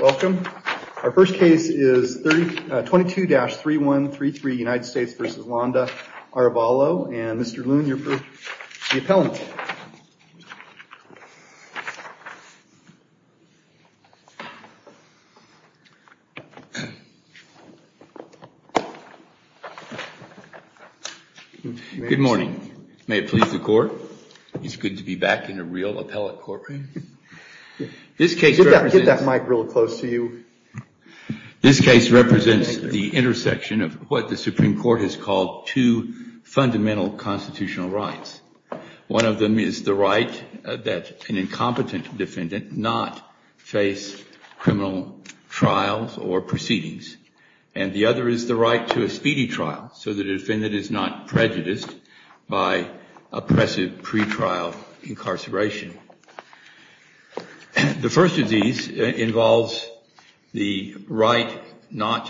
Welcome. Our first case is 22-3133, United States v. Landa-Arevalo. And Mr. Loon, you're for the appellant. Good morning. May it please the Court. It's good to be back in a real close to you. This case represents the intersection of what the Supreme Court has called two fundamental constitutional rights. One of them is the right that an incompetent defendant not face criminal trials or proceedings. And the other is the right to a speedy trial, so the defendant is not prejudiced by oppressive pretrial incarceration. The first of these involves the right that the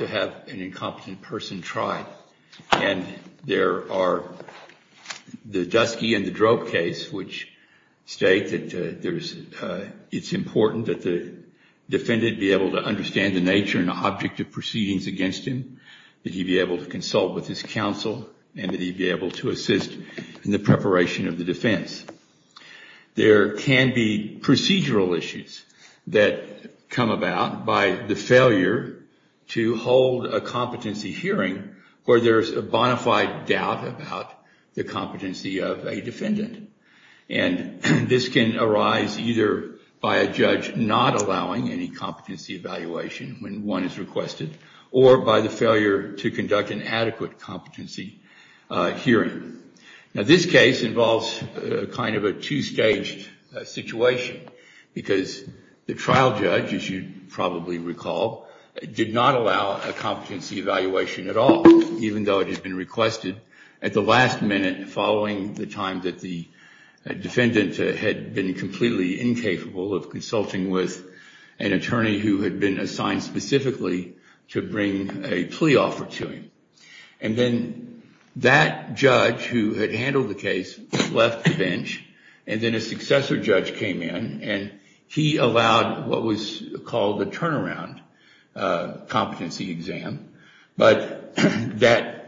defendant be able to understand the nature and object of proceedings against him, that he be able to consult with his counsel, and that he be able to assist in the preparation of the defense. There can be procedural issues that come about in this case. For example, by the failure to hold a competency hearing where there's a bonafide doubt about the competency of a defendant. And this can arise either by a judge not allowing any competency evaluation when one is requested, or by the failure to conduct an adequate competency hearing. Now, this case involves kind of a two-staged situation, because the trial judge, as you probably recall, did not allow a competency evaluation at all, even though it had been requested at the last minute following the time that the defendant had been completely incapable of consulting with an attorney who had been assigned specifically to bring a plea offer to him. And then that judge, who had handled the case, left the bench, and then a successor judge came in, and he allowed what was called a turnaround competency exam. But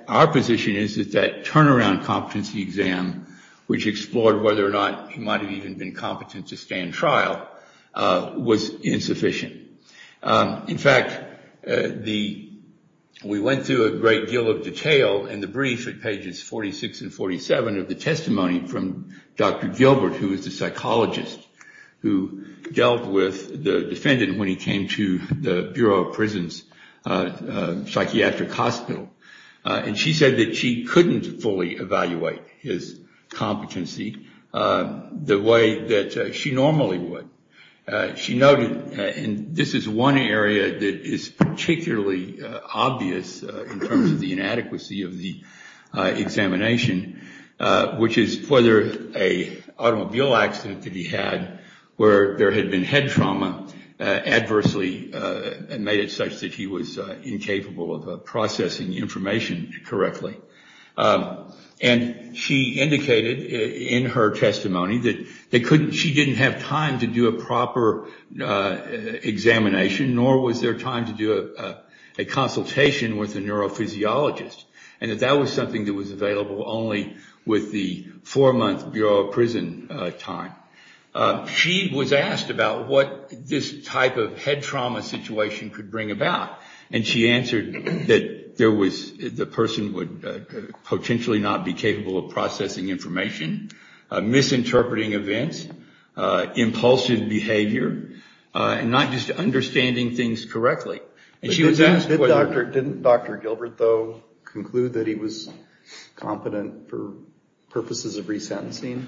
our position is that that turnaround competency exam, which explored whether or not he might have even been competent to stand trial, was insufficient. In fact, we went through a great deal of detail in the brief at pages 46 and 47 of the testimony from Dr. Gilbert, who was the psychologist who dealt with the defendant when he came to the Bureau of Prisons psychiatric hospital. And she said that she couldn't fully evaluate his competency the way that she normally would. She noted, and this is one area that is particularly obvious in terms of the inadequacy of the competency examination, which is whether an automobile accident that he had where there had been head trauma adversely made it such that he was incapable of processing information correctly. And she indicated in her testimony that she didn't have time to do a proper examination, nor was there time to do a consultation with a neurophysiologist. And that that was something that was available only with the four-month Bureau of Prison time. She was asked about what this type of head trauma situation could bring about, and she answered that the person would potentially not be capable of processing information, misinterpreting events, impulsive behavior, and not just understanding things correctly. Didn't Dr. Gilbert, though, conclude that he was competent for purposes of resentencing?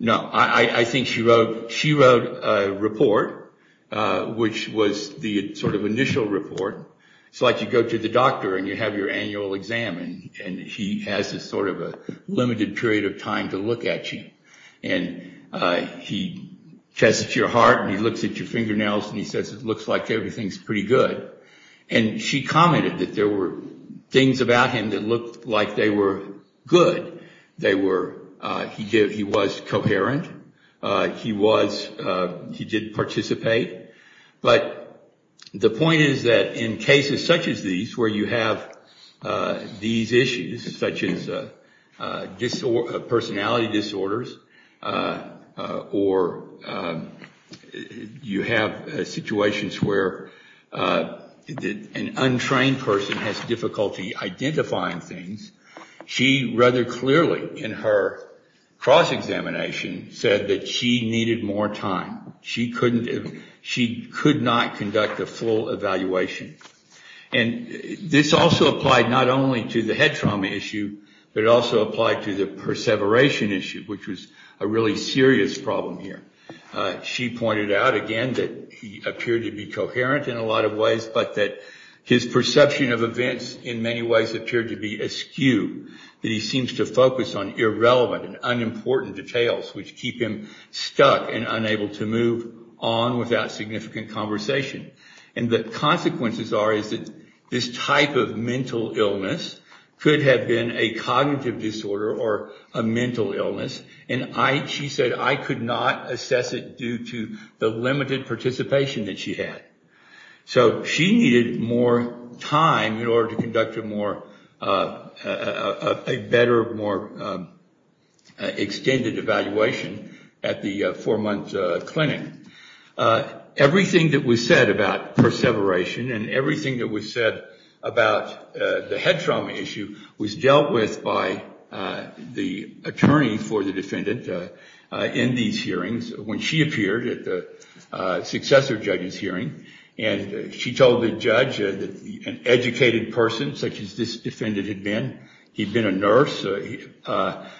No. I think she wrote a report, which was the sort of initial report. It's like you go to the doctor, and you have your annual exam, and he has a sort of a limited period of time to look at you. And he tests your heart, and he looks at your fingernails, and he says it looks like everything's pretty good. And she commented that there were things about him that looked like they were good. He was coherent. He did participate. But the point is that in cases such as these, where you have these issues, such as personality disorders, or you have situations where an untrained person has difficulty identifying things, she rather clearly in her cross-examination said that she needed more time. She couldn't conduct a full evaluation. And this also applied not only to the head trauma issue, but it also applied to the perseveration issue, which was a really serious problem here. She pointed out again that he appeared to be coherent in a lot of ways, but that his perception of events in many ways appeared to be askew, that he seems to focus on irrelevant and unimportant details, which keep him stuck and unable to move on without significant conversation. And the consequences are that this type of mental illness could have been a cognitive disorder or a mental illness, and she said, I could not assess it due to the limited participation that she had. So she needed more time in order to conduct a better, more extended evaluation. At the four-month clinic, everything that was said about perseveration and everything that was said about the head trauma issue was dealt with by the attorney for the defendant in these hearings when she appeared at the successor judge's hearing. And she told the judge that an educated person such as this defendant had been, he'd been a nurse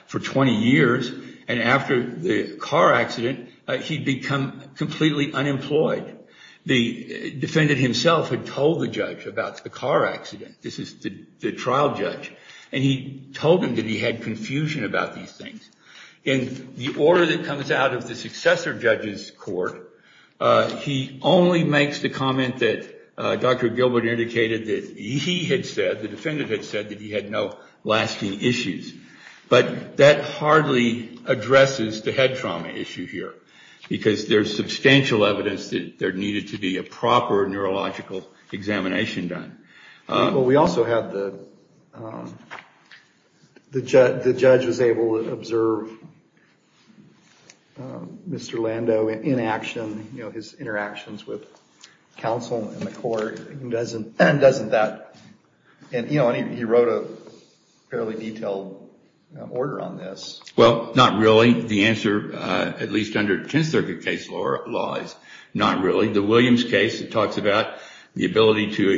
for 20 years, and after the car accident, he'd become completely unemployed. The defendant himself had told the judge about the car accident, this is the trial judge, and he told him that he had confusion about these things. In the order that comes out of the successor judge's court, he only makes the comment that Dr. Gilbert indicated that he had said, the defendant had said that he had no lasting issues. But that hardly addresses the head trauma issue here, because there's substantial evidence that there needed to be a proper neurological examination done. We also have the, the judge was able to observe Mr. Lando in action, you know, his interactions with counsel and the court. Doesn't that, and you know, he wrote a fairly detailed order on this. Well, not really. The answer, at least under Tenth Circuit case law, is not really. The Williams case talks about the ability to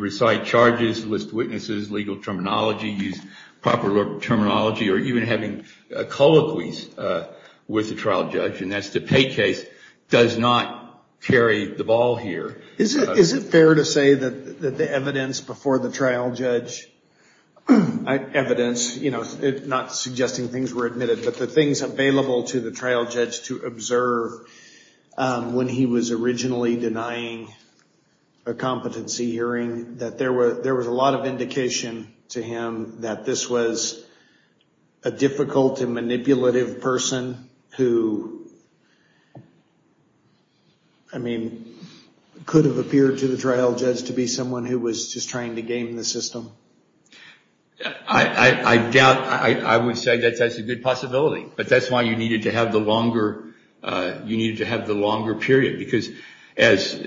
recite charges, list witnesses, legal terminology, use proper terminology, or even having a colloquy with the trial judge. And that's the Pei case does not carry the ball here. Is it fair to say that the evidence before the trial judge, evidence, you know, not suggesting things were admitted, but the things available to the trial judge to observe when he was originally denying a competency hearing, that there was a lot of indication to him that this was a difficult and manipulative person who, I mean, could have appeared to the trial judge to be someone who was just trying to game the system? I doubt, I would say that that's a good possibility. But that's why you needed to have the longer, you needed to have the longer period. Because as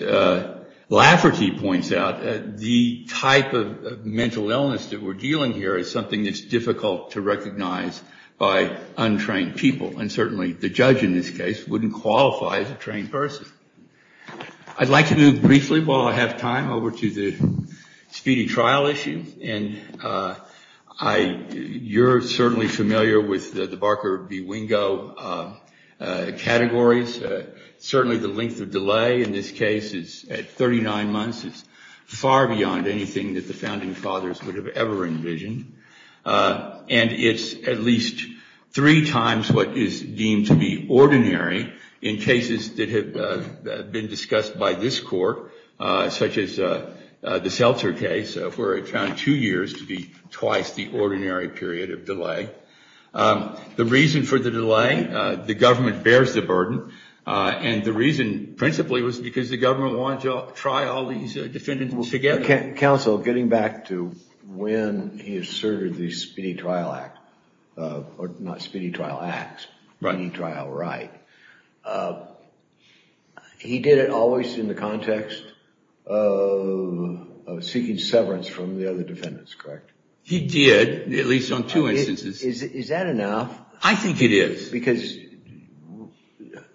Lafferty points out, the type of mental illness that we're dealing here is something that's difficult to recognize by untrained people. And certainly the judge in this case wouldn't qualify as a trained person. I'd like to move briefly, while I have time, over to the speedy trial issue. And I, you're certainly familiar with the Barker v. Wingo categories. Certainly the length of delay in this case is at 39 months. It's far beyond anything that the founding fathers would have ever envisioned. And it's at least three times what is deemed to be ordinary in cases that have been discussed by this court, such as the Seltzer case, where it found two years to be twice the ordinary period of delay. The reason for the delay, the government bears the burden. And the reason, principally, was because the government wanted to try all these defendants together. Counsel, getting back to when he asserted the speedy trial act, or not speedy trial act, speedy trial right, he did it always in the context of seeking severance from the other defendants, correct? He did, at least on two instances. Is that enough? I think it is. Because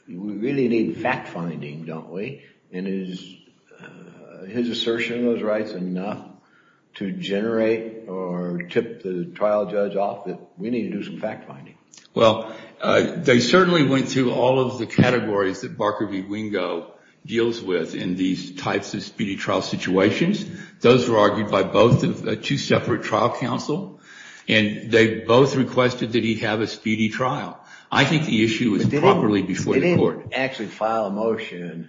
we really need fact-finding, don't we? And is his assertion of those rights enough to generate or tip the trial judge off that we need to do some fact-finding? They certainly went through all of the categories that Barker v. Wingo deals with in these types of speedy trial situations. Those were argued by both, two separate trial counsel, and they both requested that he have a speedy trial. I think the issue was properly before the court. He didn't actually file a motion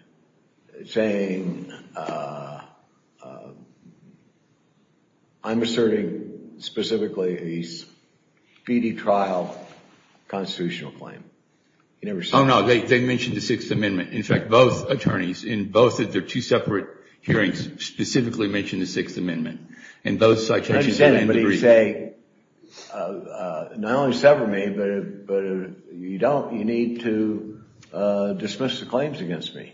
saying, I'm asserting, specifically, a speedy trial constitutional claim. Oh no, they mentioned the Sixth Amendment. In fact, both attorneys, in both of their two separate hearings, specifically mentioned the Sixth Amendment, in both citations and not only sever me, but you need to dismiss the claims against me.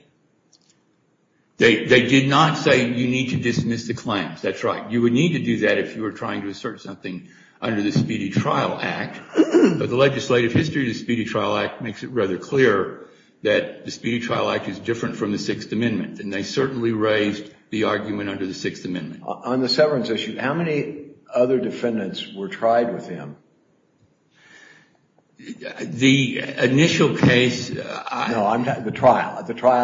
They did not say, you need to dismiss the claims. That's right. You would need to do that if you were trying to assert something under the Speedy Trial Act, but the legislative history of the Speedy Trial Act makes it rather clear that the Speedy Trial Act is different from the Sixth Amendment, and they certainly raised the argument under the Sixth Amendment. On the severance issue, how many other defendants were tried with him? The initial case... No, I'm talking about the trial.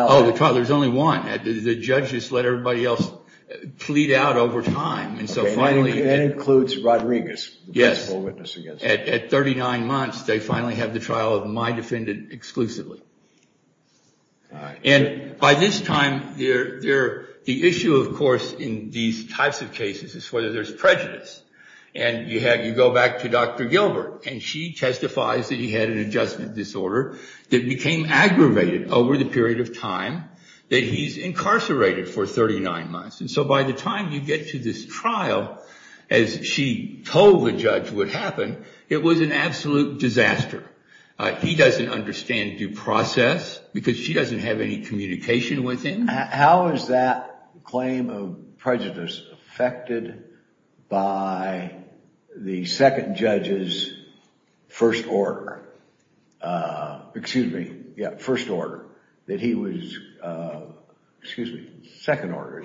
Oh, the trial. There's only one. The judges let everybody else plead out over time, and so finally... That includes Rodriguez, the principal witness against him. At 39 months, they finally have the trial of my defendant exclusively. By this time, the issue, of course, in these types of cases is whether there's prejudice. You go back to Dr. Gilbert, and she testifies that he had an adjustment disorder that became aggravated over the period of time that he's incarcerated for 39 months. By the time you get to this trial, as she told the judge what happened, it was an absolute disaster. He doesn't understand due process because she doesn't have any communication with him. How is that claim of prejudice affected by the second judge's first order? Excuse me, first order, that he was... Excuse me, second order,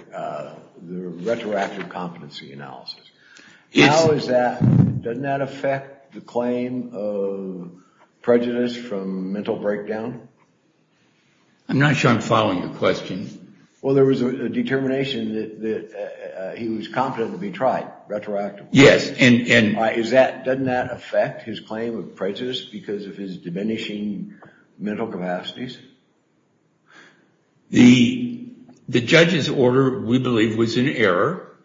the retroactive competency analysis. Yes. How is that... Doesn't that affect the claim of prejudice from mental breakdown? I'm not sure I'm following your question. Well, there was a determination that he was competent to be tried retroactively. Yes, and... Doesn't that affect his claim of prejudice because of his diminishing mental capacities? The judge's order, we believe, was in error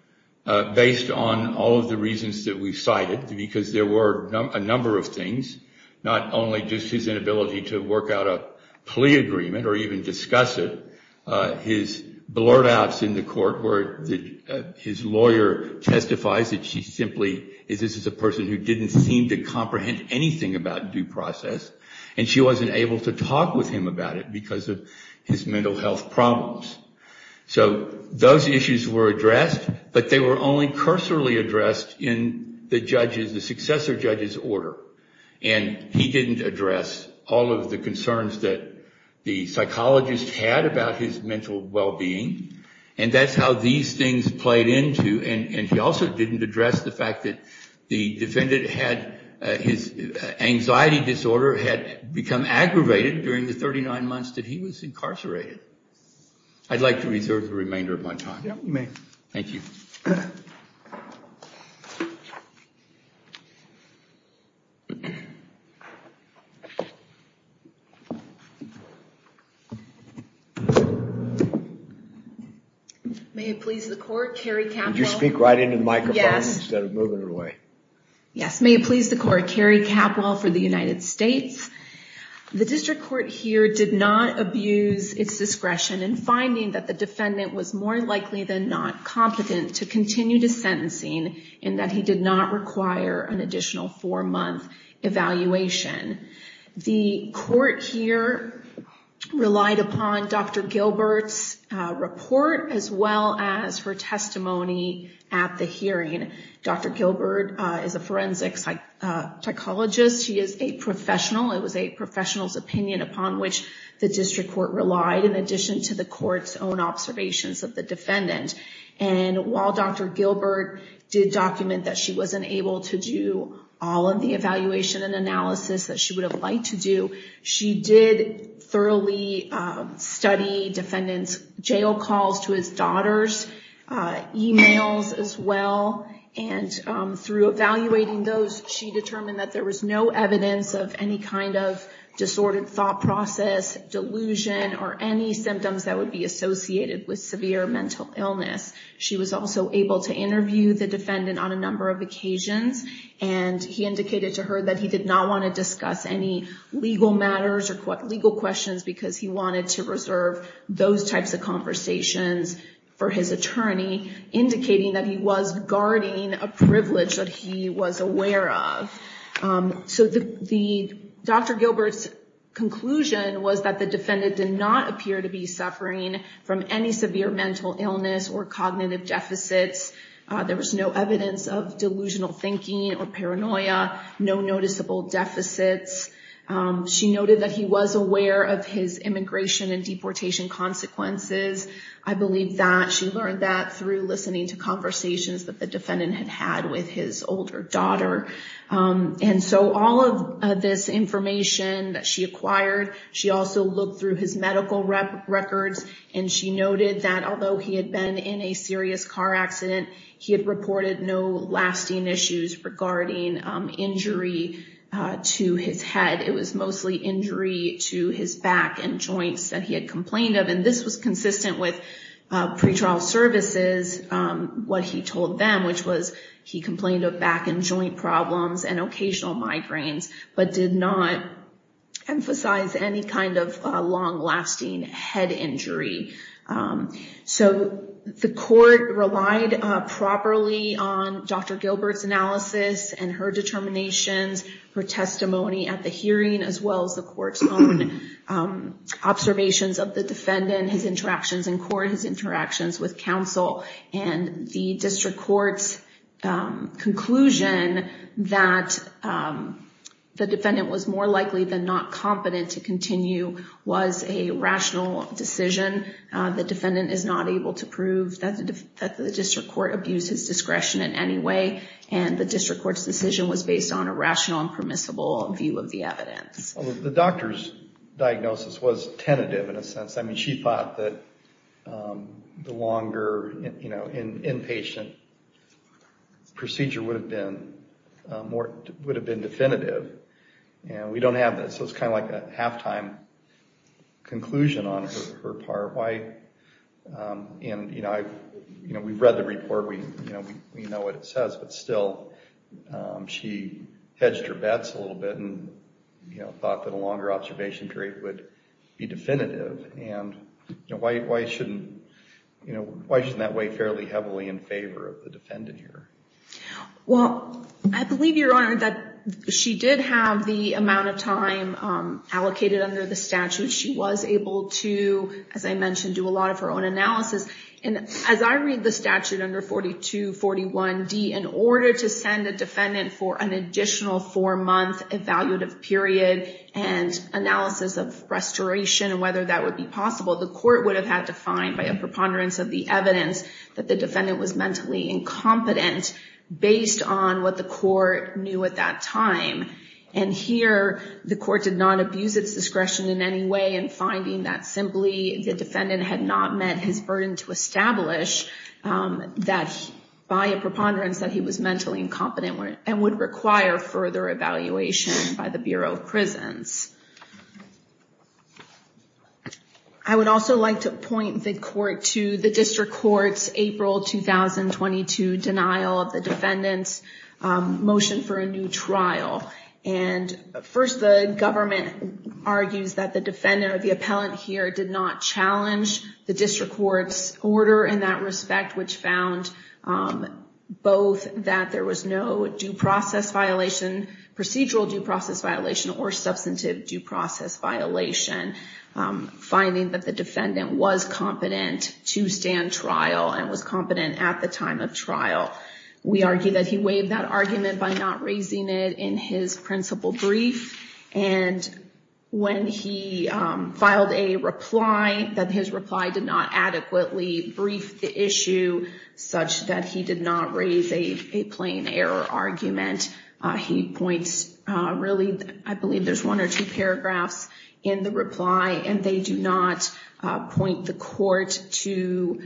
based on all of the reasons that we cited because there were a number of things, not only just his inability to work out a plea agreement or even discuss it, his blurt outs in the court where his lawyer testifies that she simply... This is a person who didn't seem to comprehend anything about due process, and she wasn't able to talk with him about it because of his mental health problems. So those issues were addressed, but they were only cursorily addressed in the judge's, the successor judge's order, and he didn't address all of the concerns that the psychologist had about his mental well-being, and that's how these things played into, and he also didn't address the fact that the defendant had... His anxiety disorder had become aggravated during the 39 months that he was incarcerated. I'd like to reserve the remainder of my time. Yeah, you may. Thank you. May it please the court, Carrie Capwell... Would you speak right into the microphone instead of moving her away? Yes, may it please the court, Carrie Capwell for the United States. The district court here did not abuse its discretion in finding that the defendant was more likely than not competent to continue to sentencing, and that he did not require an additional four-month evaluation. The court here relied upon Dr. Gilbert's report as well as her testimony at the hearing. Dr. Gilbert is a forensic psychologist. She is a professional. It was a professional's opinion upon which the district court relied in addition to the court's own observations of the defendant, and while Dr. Gilbert did document that she wasn't able to do all of the evaluation and analysis that she would have liked to do, she did thoroughly study defendant's jail calls to his daughters, emails as well, and through evaluating those, she determined that there was no evidence of any kind of disordered thought process, delusion, or any symptoms that would be associated with severe mental illness. She was also able to interview the defendant on a number of occasions, and he indicated to her that he wanted to reserve those types of conversations for his attorney, indicating that he was guarding a privilege that he was aware of. Dr. Gilbert's conclusion was that the defendant did not appear to be suffering from any severe mental illness or cognitive deficits. There was no evidence of delusional thinking or paranoia, no noticeable deficits. She noted that he was aware of his immigration and deportation consequences. I believe that she learned that through listening to conversations that the defendant had had with his older daughter. All of this information that she acquired, she also looked through his medical records, and she noted that although he had been in a serious car accident, he had reported no lasting issues regarding injury to his head. It was mostly injury to his back and joints that he had complained of, and this was consistent with pretrial services, what he told them, which was he complained of back and joint problems and occasional migraines, but did not emphasize any kind of long-lasting head injury. The court relied properly on Dr. Gilbert's testimony at the hearing, as well as the court's own observations of the defendant, his interactions in court, his interactions with counsel, and the district court's conclusion that the defendant was more likely than not competent to continue was a rational decision. The defendant is not able to prove that the district court abused his discretion in any way, and the decision was based on a rational and permissible view of the evidence. The doctor's diagnosis was tentative, in a sense. She thought that the longer inpatient procedure would have been definitive. We don't have that, so it's kind of like a halftime conclusion on her part. We've read the report. We know what it says, but still, she didn't believe it. She hedged her bets a little bit and thought that a longer observation period would be definitive. Why shouldn't that weigh fairly heavily in favor of the defendant here? Well, I believe, Your Honor, that she did have the amount of time allocated under the statute. She was able to, as I mentioned, do a lot of her own analysis. As I read the report, an additional four-month evaluative period and analysis of restoration and whether that would be possible, the court would have had to find, by a preponderance of the evidence, that the defendant was mentally incompetent, based on what the court knew at that time. Here, the court did not abuse its discretion in any way in finding that simply the defendant had not met his burden to establish that, by a preponderance, that he was mentally incompetent and would require further evaluation by the Bureau of Prisons. I would also like to point the court to the District Court's April 2022 denial of the defendant's motion for a new trial. First, the government argues that the defendant or the appellant here did not challenge the District Court's order in that respect, which found both that there was no due process violation, procedural due process violation, or substantive due process violation, finding that the defendant was competent to stand trial and was competent at the time of trial. We argue that he waived that argument by not raising it in his principal brief, and when he filed a reply, that his reply did not adequately brief the issue such that he did not raise a plain error argument. He points, really, I believe there's one or two paragraphs in the reply, and they do not point the court to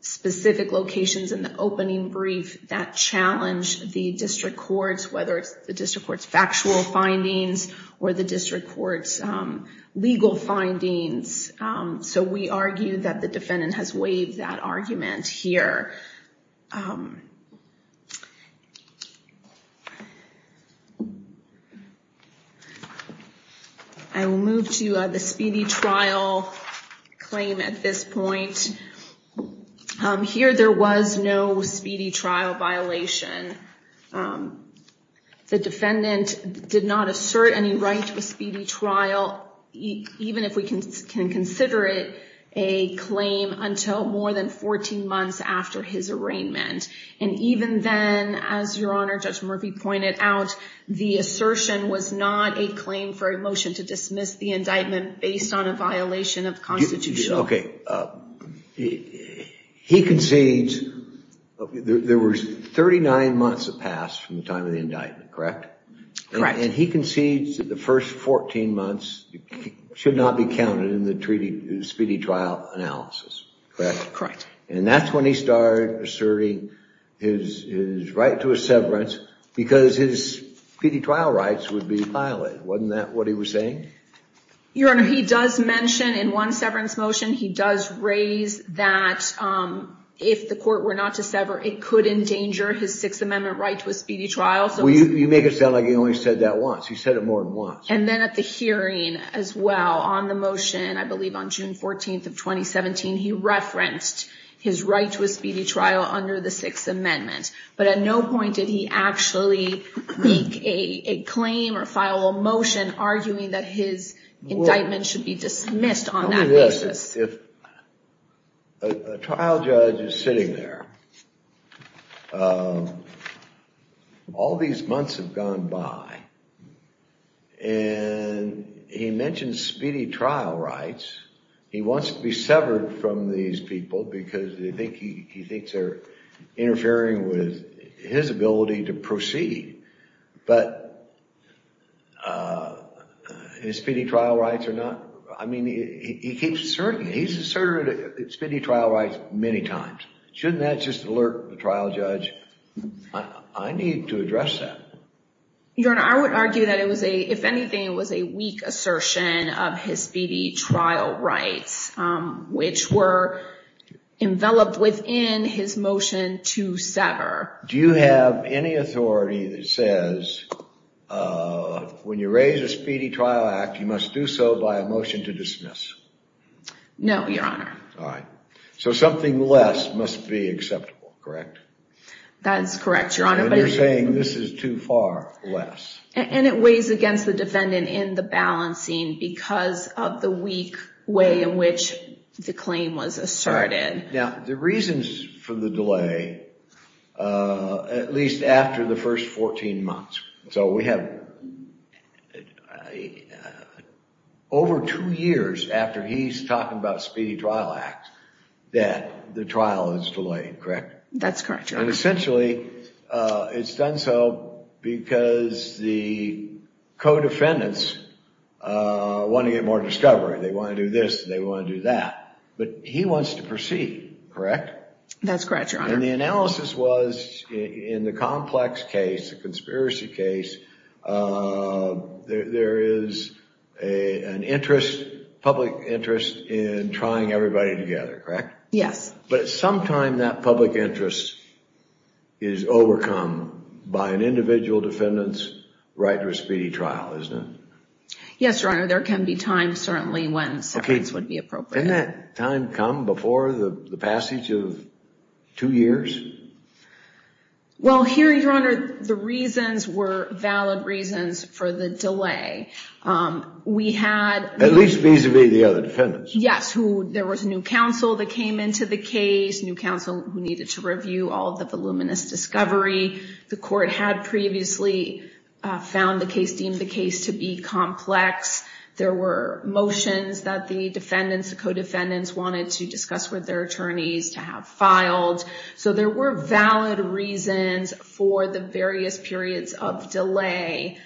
specific locations in the opening brief that challenge the District Court's, whether it's the District Court's factual findings or the District Court's legal findings. So we argue that the defendant has not raised that argument here. I will move to the speedy trial claim at this point. Here, there was no speedy trial violation. The defendant did not assert any right to a speedy trial, even if we can consider it a claim, until more than 14 months after his arraignment. And even then, as Your Honor, Judge Murphy pointed out, the assertion was not a claim for a motion to dismiss the indictment based on a violation of constitutional... He concedes, there was 39 months that passed from the time of the indictment, correct? Correct. And he concedes that the first 14 months should not be counted in the speedy trial analysis. And that's when he started asserting his right to a severance because his speedy trial rights would be violated. Wasn't that what he was saying? Your Honor, he does mention in one severance motion, he does raise that if the court were not to sever, it could endanger his Sixth Amendment right to a speedy trial. You make it sound like he only said that once. He said it more than once. And then at the hearing as well, on the motion, I believe on June 14th of 2017, he referenced his right to a speedy trial under the Sixth Amendment. But at no point did he actually make a claim or file a motion arguing that his indictment should be dismissed on that basis. If a trial judge is sitting there, all these months have gone by, and he mentioned speedy trial rights. He wants to be severed from these people because he thinks they're interfering with his ability to proceed. But his speedy trial rights are not? I mean, he keeps asserting, he's asserted speedy trial rights many times. Shouldn't that just alert the trial judge? I need to address that. Your Honor, I would argue that it was a, if anything, it was a weak assertion of his speedy trial rights, which were enveloped within his motion to sever. Do you have any authority that says, when you raise a speedy trial act, you must do so by a motion to dismiss? No, Your Honor. All right. So something less must be acceptable, correct? That's correct, Your Honor. And you're saying this is too far less. And it weighs against the defendant in the balancing because of the weak way in which the claim was asserted. Now, the reasons for the delay, at least after the first 14 months, so we have over two years after he's talking about speedy trial acts, that the trial is delayed, correct? That's correct, Your Honor. And essentially, it's done so because the co-defendants want to get more discovery. They want to do this. They want to do that. But he wants to proceed, correct? That's correct, Your Honor. And the analysis was, in the complex case, the conspiracy case, there is an interest, public interest, in trying everybody together, correct? Yes. But at some time, that public interest is overcome by an individual defendant's right to a speedy trial, isn't it? Yes, Your Honor. There can be times, certainly, when severance would be appropriate. Didn't that time come before the passage of two years? Well, here, Your Honor, the reasons were valid reasons for the delay. We had- At least vis-a-vis the other defendants. Yes, there was a new counsel that came into the case, new counsel who needed to review all of the voluminous discovery. The court had previously found the case, deemed the case to be complex. There were motions that the defendants, the co-defendants, wanted to discuss with their attorneys to have filed. So there were valid reasons for the various periods of delay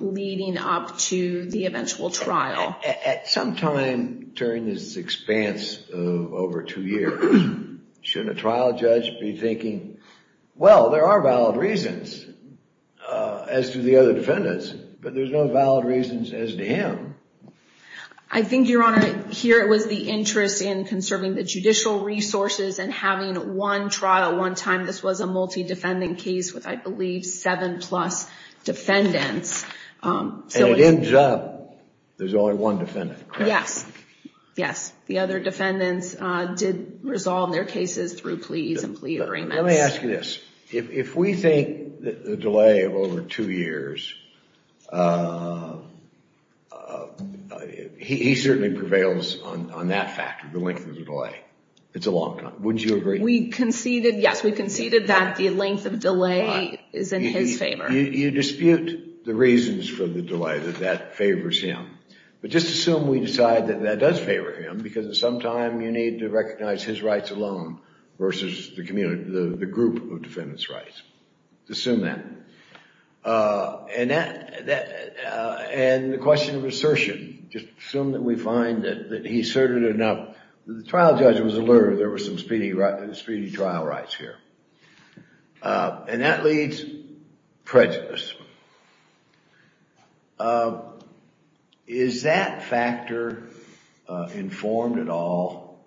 leading up to the eventual trial. At some time during this expanse of over two years, shouldn't a trial judge be thinking, well, there are valid reasons as to the other defendants, but there's no valid reasons as to him? I think, Your Honor, here it was the interest in conserving the judicial resources and having one trial at one time. This was a multi-defendant case with, I believe, seven plus defendants. And it ends up there's only one defendant, correct? Yes, yes. The other defendants did resolve their cases through pleas and plea agreements. Let me ask you this. If we think that the delay of over two years, he certainly prevails on that factor, the length of the delay. It's a long time. Wouldn't you agree? We conceded, yes, we conceded that the length of delay is in his favor. You dispute the reasons for the delay, that that favors him. But just assume we decide that that does favor him, because at some time, you need to recognize his rights alone versus the group of defendants' rights. Assume that. And the question of assertion, just assume that we find that he asserted enough. The trial judge was alerted there were some speedy trial rights here. And that leads prejudice. Is that factor informed at all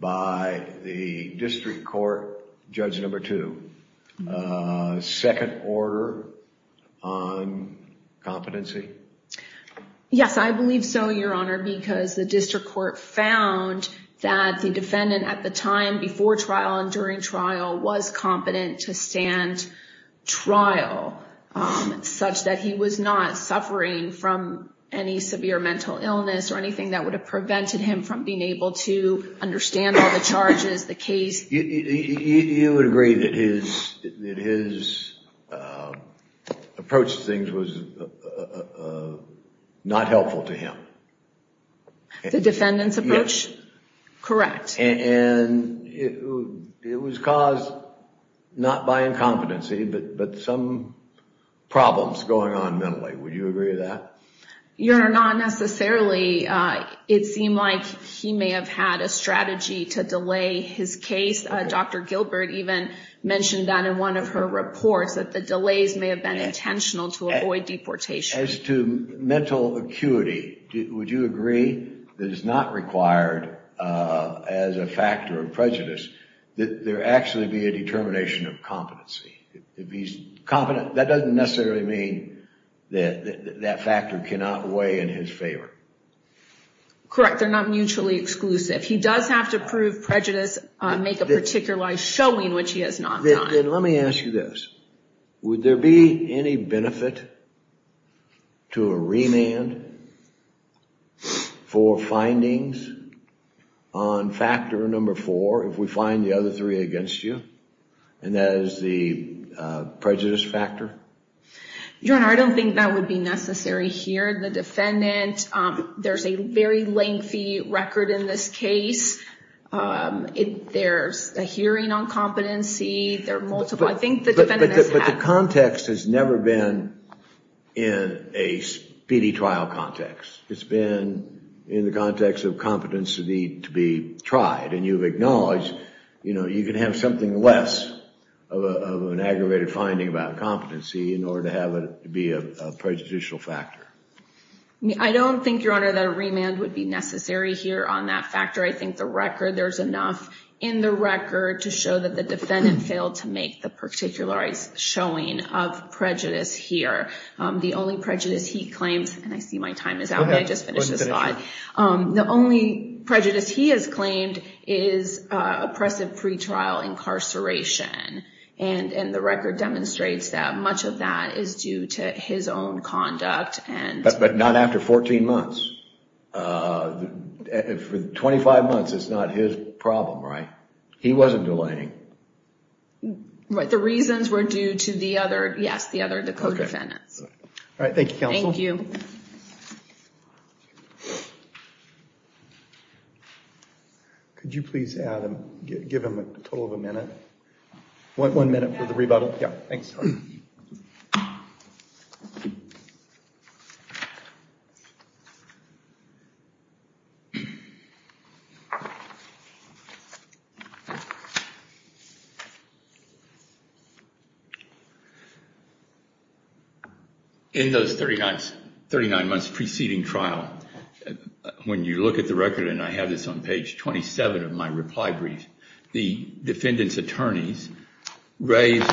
by the district court, judge number two, second order on competency? Yes, I believe so, Your Honor, because the district court found that the defendant at the time before trial and during trial was competent to stand trial, such that he was not suffering from any severe mental illness or anything that would have prevented him from being able to understand all the charges, the case. You would agree that his approach to things was not helpful to him? The defendant's approach? Correct. And it was caused not by incompetency, but some problems going on mentally. Would you agree with that? Your Honor, not necessarily. It seemed like he may have had a strategy to delay his case. Dr. Gilbert even mentioned that in one of her reports, that the delays may have been intentional to avoid deportation. As to mental acuity, would you agree that it's not required as a factor of prejudice that there actually be a determination of competency? That doesn't necessarily mean that that factor cannot weigh in his favor. Correct. They're not mutually exclusive. He does have to prove prejudice, make a particular life showing, which he has not done. Then let me ask you this. Would there be any benefit to a remand for findings on factor number four if we find the other three against you, and that is the prejudice factor? Your Honor, I don't think that would be necessary here. The defendant, there's a very lengthy record in this case. There's a hearing on competency. There are multiple. But the context has never been in a speedy trial context. It's been in the context of competency to be tried. And you've acknowledged you can have something less of an aggravated finding about competency in order to have it be a prejudicial factor. I don't think, Your Honor, that a remand would be necessary here on that factor. I think the record, there's enough in the record to show that the defendant failed to make the particular showing of prejudice here. The only prejudice he claims, and I see my time is up. I just finished this thought. The only prejudice he has claimed is oppressive pretrial incarceration. And the record demonstrates that much of that is due to his own conduct. But not after 14 months. For 25 months, it's not his problem, right? He wasn't delighting. The reasons were due to the other, yes, the other, the co-defendants. All right, thank you, counsel. Thank you. Could you please give him a total of a minute? One minute for the rebuttal. Yeah, thanks. Thank you. In those 39 months preceding trial, when you look at the record, and I have this on page 27 of my reply brief, the defendant's attorneys raised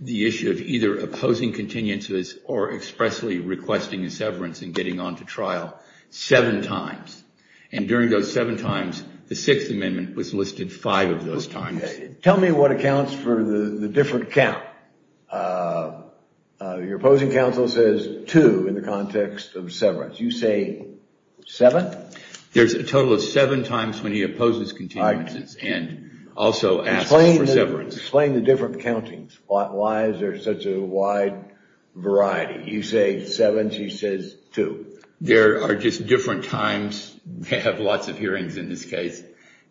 the issue of either opposing contingencies or expressly requesting a severance and getting on to trial seven times. And during those seven times, the Sixth Amendment was listed five of those times. Tell me what accounts for the different count. Your opposing counsel says two in the context of severance. You say seven? There's a total of seven times when he opposes contingencies and also asks for severance. Explain the different countings. Why is there such a wide variety? You say seven, she says two. There are just different times. We have lots of hearings in this case,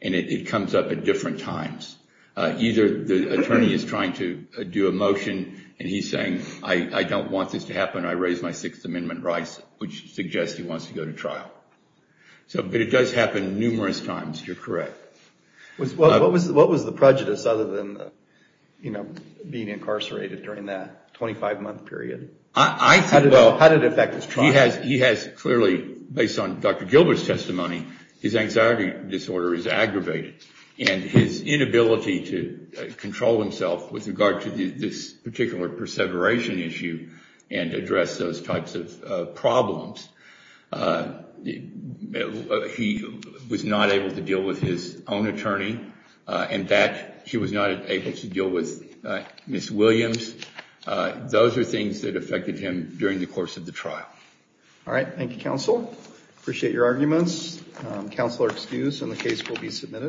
and it comes up at different times. Either the attorney is trying to do a motion, and he's saying, I don't want this to happen. I raise my Sixth Amendment rights, which suggests he wants to go to trial. But it does happen numerous times. You're correct. What was the prejudice other than being incarcerated during that 25-month period? How did it affect his trial? He has clearly, based on Dr. Gilbert's testimony, his anxiety disorder is aggravated. And his inability to control himself with regard to this particular perseveration issue and address those types of problems, he was not able to deal with his own attorney. In fact, he was not able to deal with Ms. Williams. Those are things that affected him during the course of the trial. All right, thank you, counsel. Appreciate your arguments. Counsel are excused, and the case will be submitted.